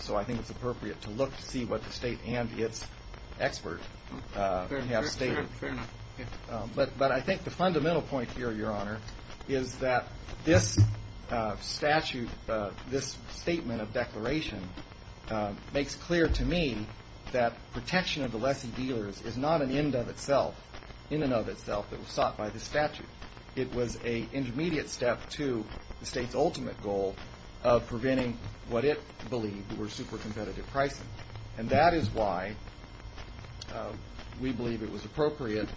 So I think it's appropriate to look to see what the state and its expert have stated. Fair enough. But I think the fundamental point here, Your Honor, is that this statute, this statement of declaration, makes clear to me that protection of the lessee dealers is not an end of itself. In and of itself, it was sought by the statute. It was an intermediate step to the state's ultimate goal of preventing what it believed were super competitive pricing. And that is why we believe it was appropriate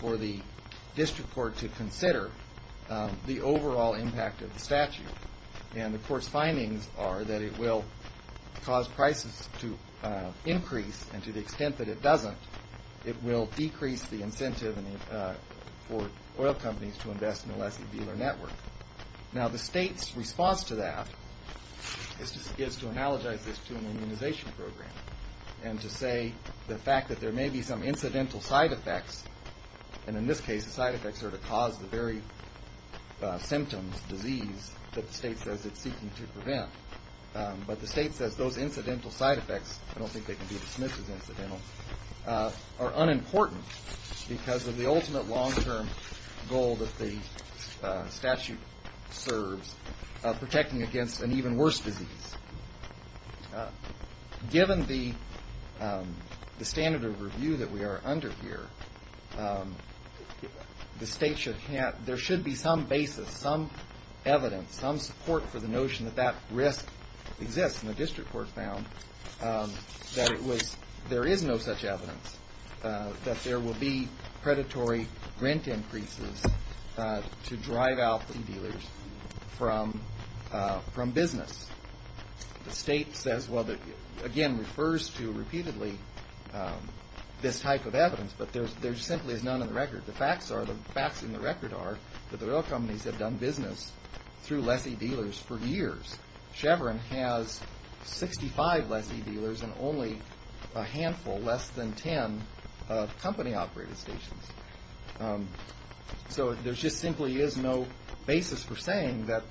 for the district court to consider the overall impact of the statute. And the court's findings are that it will cause prices to increase, and to the extent that it doesn't, it will decrease the incentive for oil companies to invest in the lessee dealer network. Now, the state's response to that is to analogize this to an immunization program and to say the fact that there may be some incidental side effects, and in this case the side effects are to cause the very symptoms, disease, that the state says it's seeking to prevent. But the state says those incidental side effects, I don't think they can be dismissed as incidental, are unimportant because of the ultimate long-term goal that the statute serves of protecting against an even worse disease. Given the standard of review that we are under here, the state should have, there should be some basis, some evidence, some support for the notion that that risk exists. And the district court found that it was, there is no such evidence, that there will be predatory rent increases to drive out lease dealers from business. The state says, well, again, refers to repeatedly this type of evidence, but there simply is none on the record. The facts are, the facts in the record are that the oil companies have done business through lessee dealers for years. Chevron has 65 lessee dealers and only a handful, less than 10, of company-operated stations. So there just simply is no basis for saying that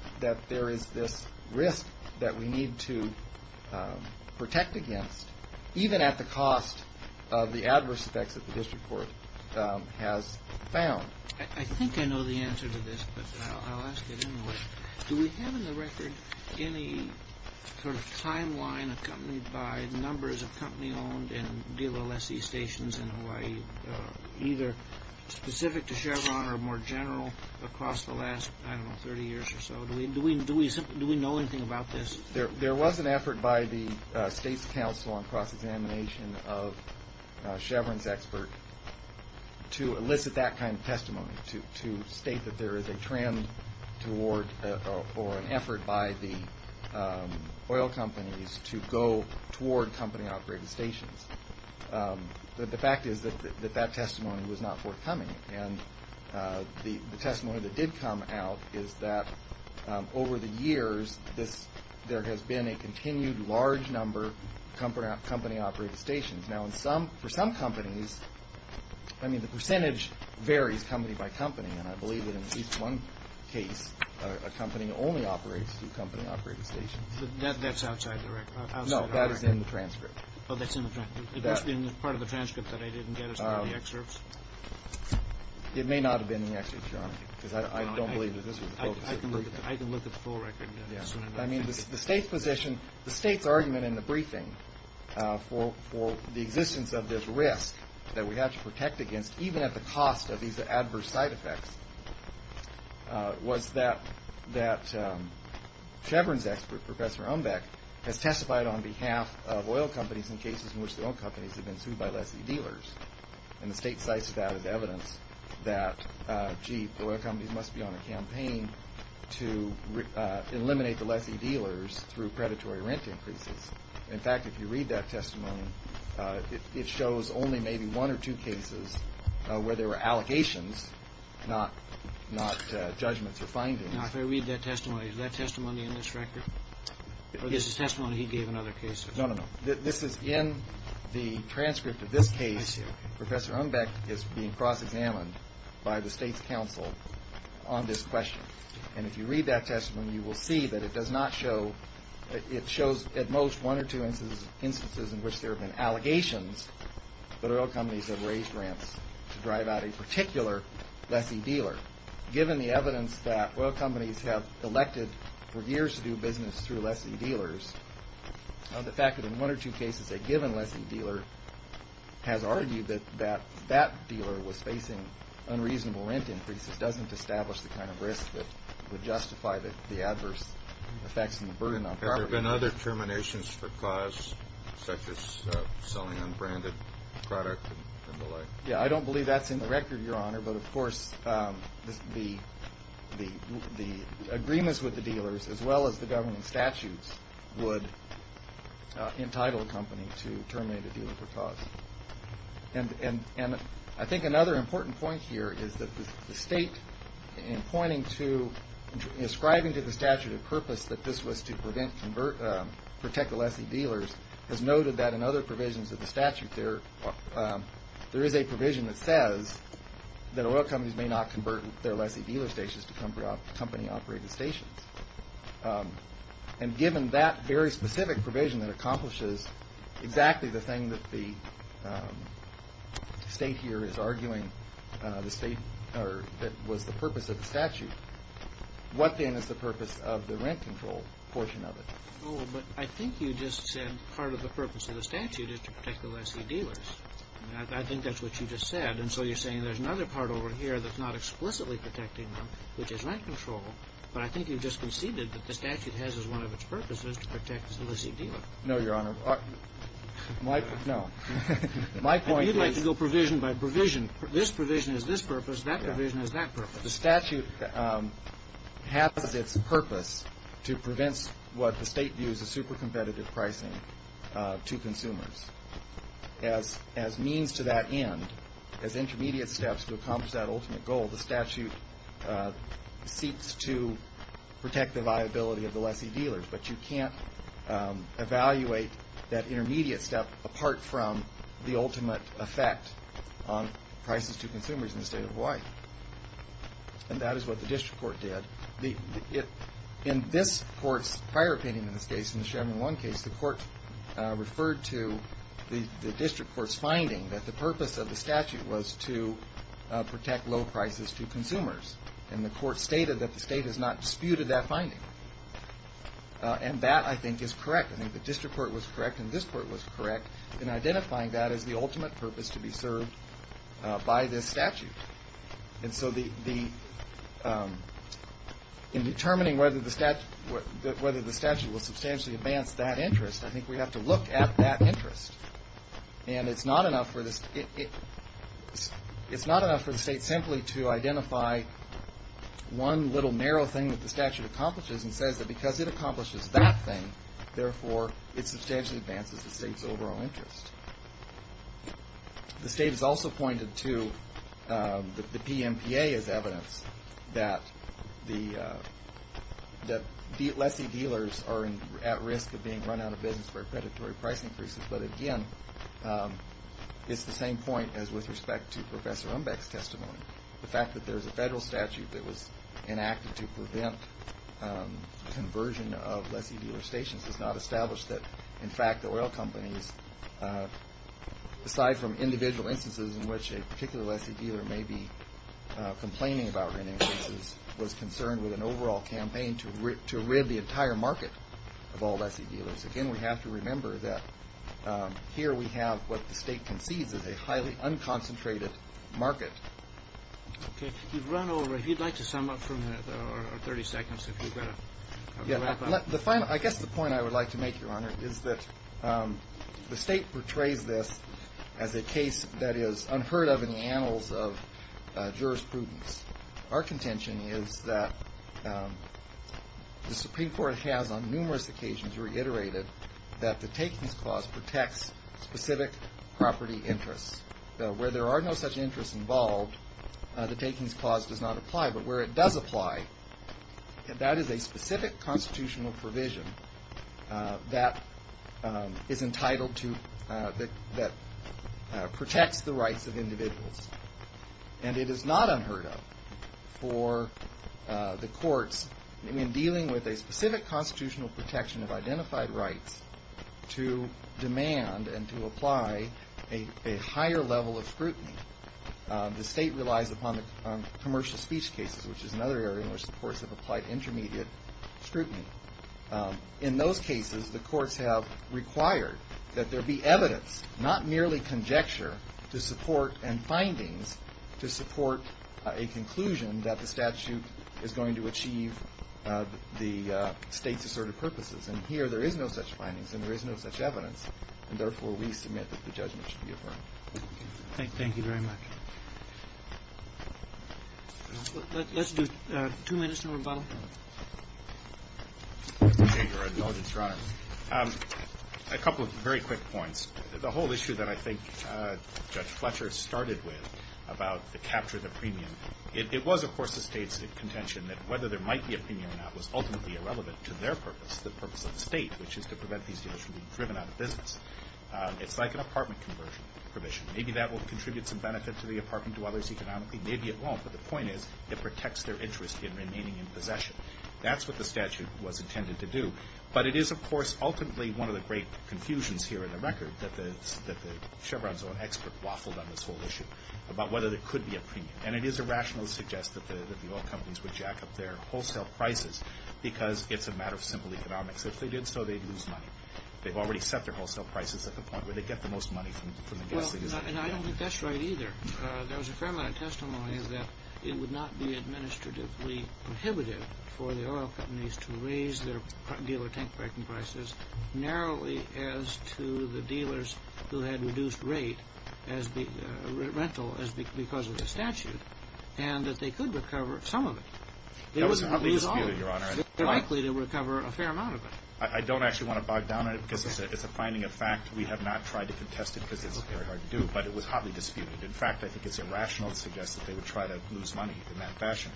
there is this risk that we need to protect against, even at the cost of the adverse effects that the district court has found. I think I know the answer to this, but I'll ask it anyway. Do we have in the record any sort of timeline accompanied by numbers of company-owned and dealer lessee stations in Hawaii, either specific to Chevron or more general across the last, I don't know, 30 years or so? Do we know anything about this? There was an effort by the state's council on cross-examination of Chevron's expert to elicit that kind of testimony, to state that there is a trend toward or an effort by the oil companies to go toward company-operated stations. The fact is that that testimony was not forthcoming, and the testimony that did come out is that over the years there has been a continued large number company-operated stations. Now, for some companies, I mean, the percentage varies company by company, and I believe that in at least one case a company only operates through company-operated stations. That's outside the record. No, that is in the transcript. Oh, that's in the transcript. It must be in part of the transcript that I didn't get as part of the excerpts. It may not have been in the excerpts, Your Honor, because I don't believe that this was the focus of the briefing. I can look at the full record. I mean, the state's position, the state's argument in the briefing for the existence of this risk that we have to protect against, even at the cost of these adverse side effects, was that Chevron's expert, Professor Umbeck, has testified on behalf of oil companies in cases in which their own companies have been sued by lessee dealers. And the state cites that as evidence that, gee, oil companies must be on a campaign to eliminate the lessee dealers through predatory rent increases. In fact, if you read that testimony, it shows only maybe one or two cases where there were allegations, not judgments or findings. Now, if I read that testimony, is that testimony in this record? Or this is testimony he gave in other cases? No, no, no. This is in the transcript of this case. Professor Umbeck is being cross-examined by the state's counsel on this question. And if you read that testimony, you will see that it does not show, it shows at most one or two instances in which there have been allegations that oil companies have raised rents to drive out a particular lessee dealer. Given the evidence that oil companies have elected for years to do business through lessee dealers, the fact that in one or two cases a given lessee dealer has argued that that dealer was facing unreasonable rent increases doesn't establish the kind of risk that would justify the adverse effects and the burden on property. Have there been other terminations for cause, such as selling unbranded product and the like? Yeah, I don't believe that's in the record, Your Honor, but of course the agreements with the dealers as well as the governing statutes would entitle a company to terminate a dealer for cause. And I think another important point here is that the state, in ascribing to the statute of purpose that this was to protect the lessee dealers, has noted that in other provisions of the statute there is a provision that says that oil companies may not convert their lessee dealer stations to company-operated stations. And given that very specific provision that accomplishes exactly the thing that the state here is arguing, that was the purpose of the statute, what then is the purpose of the rent control portion of it? Oh, but I think you just said part of the purpose of the statute is to protect the lessee dealers. I think that's what you just said. And so you're saying there's another part over here that's not explicitly protecting them, which is rent control. But I think you've just conceded that the statute has as one of its purposes to protect the lessee dealer. No, Your Honor. No. My point is. You'd like to go provision by provision. This provision is this purpose. That provision is that purpose. The statute has its purpose to prevent what the state views as super competitive pricing to consumers. As means to that end, as intermediate steps to accomplish that ultimate goal, the statute seeks to protect the viability of the lessee dealers. But you can't evaluate that intermediate step apart from the ultimate effect on prices to consumers in the state of Hawaii. And that is what the district court did. In this court's prior opinion in this case, in the Chevron 1 case, the court referred to the district court's finding that the purpose of the statute was to protect low prices to consumers. And the court stated that the state has not disputed that finding. And that, I think, is correct. I think the district court was correct and this court was correct in identifying that as the ultimate purpose to be served by this statute. And so in determining whether the statute will substantially advance that interest, I think we have to look at that interest. And it's not enough for the state simply to identify one little narrow thing that the statute accomplishes and says that because it accomplishes that thing, therefore, it substantially advances the state's overall interest. The state has also pointed to the PMPA as evidence that lessee dealers are at risk of being run out of business for predatory price increases. But again, it's the same point as with respect to Professor Umbeck's testimony. The fact that there's a federal statute that was enacted to prevent conversion of lessee dealer stations does not establish that, in fact, the oil companies, aside from individual instances in which a particular lessee dealer may be complaining about rent increases, was concerned with an overall campaign to rib the entire market of all lessee dealers. Again, we have to remember that here we have what the state concedes is a highly unconcentrated market. Okay. You've run over. If you'd like to sum up for a minute or 30 seconds, if you've got a wrap-up. I guess the point I would like to make, Your Honor, is that the state portrays this as a case that is unheard of in the annals of jurisprudence. Our contention is that the Supreme Court has on numerous occasions reiterated that the takings clause protects specific property interests. Where there are no such interests involved, the takings clause does not apply. But where it does apply, that is a specific constitutional provision that is entitled to, that protects the rights of individuals. And it is not unheard of for the courts, in dealing with a specific constitutional protection of identified rights, to demand and to apply a higher level of scrutiny. The state relies upon the commercial speech cases, which is another area in which the courts have applied intermediate scrutiny. In those cases, the courts have required that there be evidence, not merely conjecture, to support, and findings to support a conclusion that the statute is going to achieve the state's assertive purposes. And here there is no such findings and there is no such evidence, and therefore we submit that the judgment should be affirmed. Thank you very much. Let's do two minutes, and then we'll rebuttal. Mr. Jager, I acknowledge your Honor. A couple of very quick points. The whole issue that I think Judge Fletcher started with about the capture of the premium, it was, of course, the State's contention that whether there might be a premium or not was ultimately irrelevant to their purpose, the purpose of the State, which is to prevent these deals from being driven out of business. It's like an apartment conversion provision. Maybe that will contribute some benefit to the apartment, to others economically. Maybe it won't, but the point is it protects their interest in remaining in possession. That's what the statute was intended to do. But it is, of course, ultimately one of the great confusions here in the record that Chevron's own expert waffled on this whole issue about whether there could be a premium. And it is irrational to suggest that the oil companies would jack up their wholesale prices because it's a matter of simple economics. If they did so, they'd lose money. They've already set their wholesale prices at the point where they get the most money from the gasoline. Well, and I don't think that's right either. There was a fair amount of testimony that it would not be administratively prohibitive for the oil companies to raise their dealer tank packing prices narrowly as to the dealers who had reduced rate as the rental because of the statute and that they could recover some of it. That was an ugly dispute, Your Honor. They're likely to recover a fair amount of it. I don't actually want to bog down on it because it's a finding of fact. We have not tried to contest it because it's very hard to do. But it was hotly disputed. In fact, I think it's irrational to suggest that they would try to lose money in that fashion.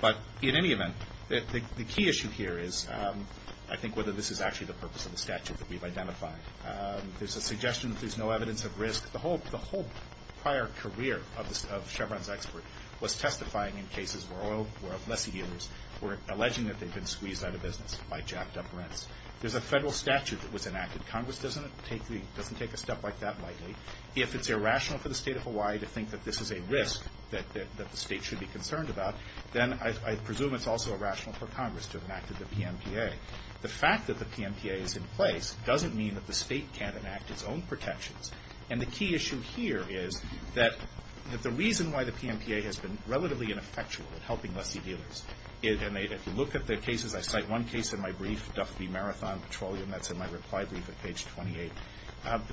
But in any event, the key issue here is I think whether this is actually the purpose of the statute that we've identified. There's a suggestion that there's no evidence of risk. The whole prior career of Chevron's expert was testifying in cases where lessee dealers were alleging that they'd been squeezed out of business by jacked-up rents. There's a federal statute that was enacted. Congress doesn't take a step like that lightly. If it's irrational for the State of Hawaii to think that this is a risk that the State should be concerned about, then I presume it's also irrational for Congress to have enacted the PMPA. The fact that the PMPA is in place doesn't mean that the State can't enact its own protections. And the key issue here is that the reason why the PMPA has been relatively ineffectual in helping lessee dealers and if you look at the cases, I cite one case in my brief, Duffy Marathon Petroleum, that's in my reply brief at page 28.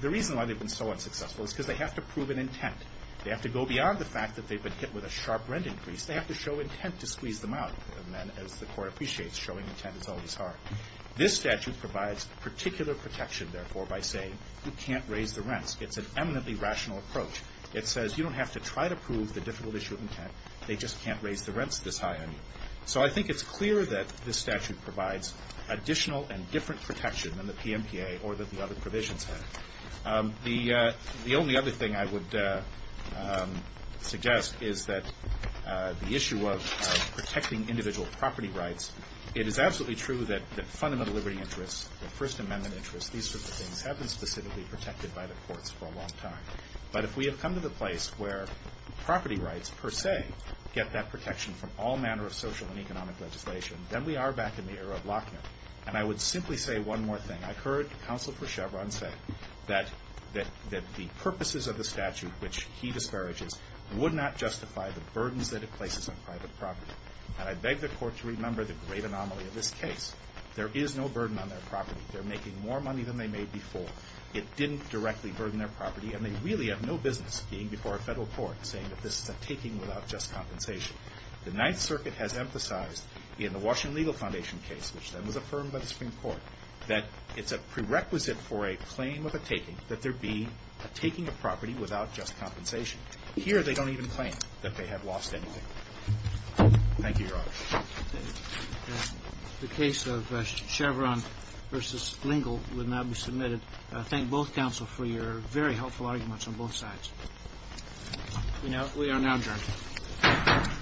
The reason why they've been so unsuccessful is because they have to prove an intent. They have to go beyond the fact that they've been hit with a sharp rent increase. They have to show intent to squeeze them out. And then, as the Court appreciates, showing intent is always hard. This statute provides particular protection, therefore, by saying you can't raise the rents. It's an eminently rational approach. They just can't raise the rents this high on you. So I think it's clear that this statute provides additional and different protection than the PMPA or that the other provisions have. The only other thing I would suggest is that the issue of protecting individual property rights, it is absolutely true that fundamental liberty interests, the First Amendment interests, these sorts of things, have been specifically protected by the courts for a long time. But if we have come to the place where property rights, per se, get that protection from all manner of social and economic legislation, then we are back in the era of Lochner. And I would simply say one more thing. I've heard Counsel for Chevron say that the purposes of the statute, which he disparages, would not justify the burdens that it places on private property. And I beg the Court to remember the great anomaly of this case. There is no burden on their property. They're making more money than they made before. It didn't directly burden their property. And they really have no business being before a Federal court saying that this is a taking without just compensation. The Ninth Circuit has emphasized in the Washington Legal Foundation case, which then was affirmed by the Supreme Court, that it's a prerequisite for a claim of a taking that there be a taking of property without just compensation. Here, they don't even claim that they have lost anything. Thank you, Your Honor. The case of Chevron v. Lingle will now be submitted. I thank both Counsel for your very helpful arguments on both sides. We are now adjourned. Thank you.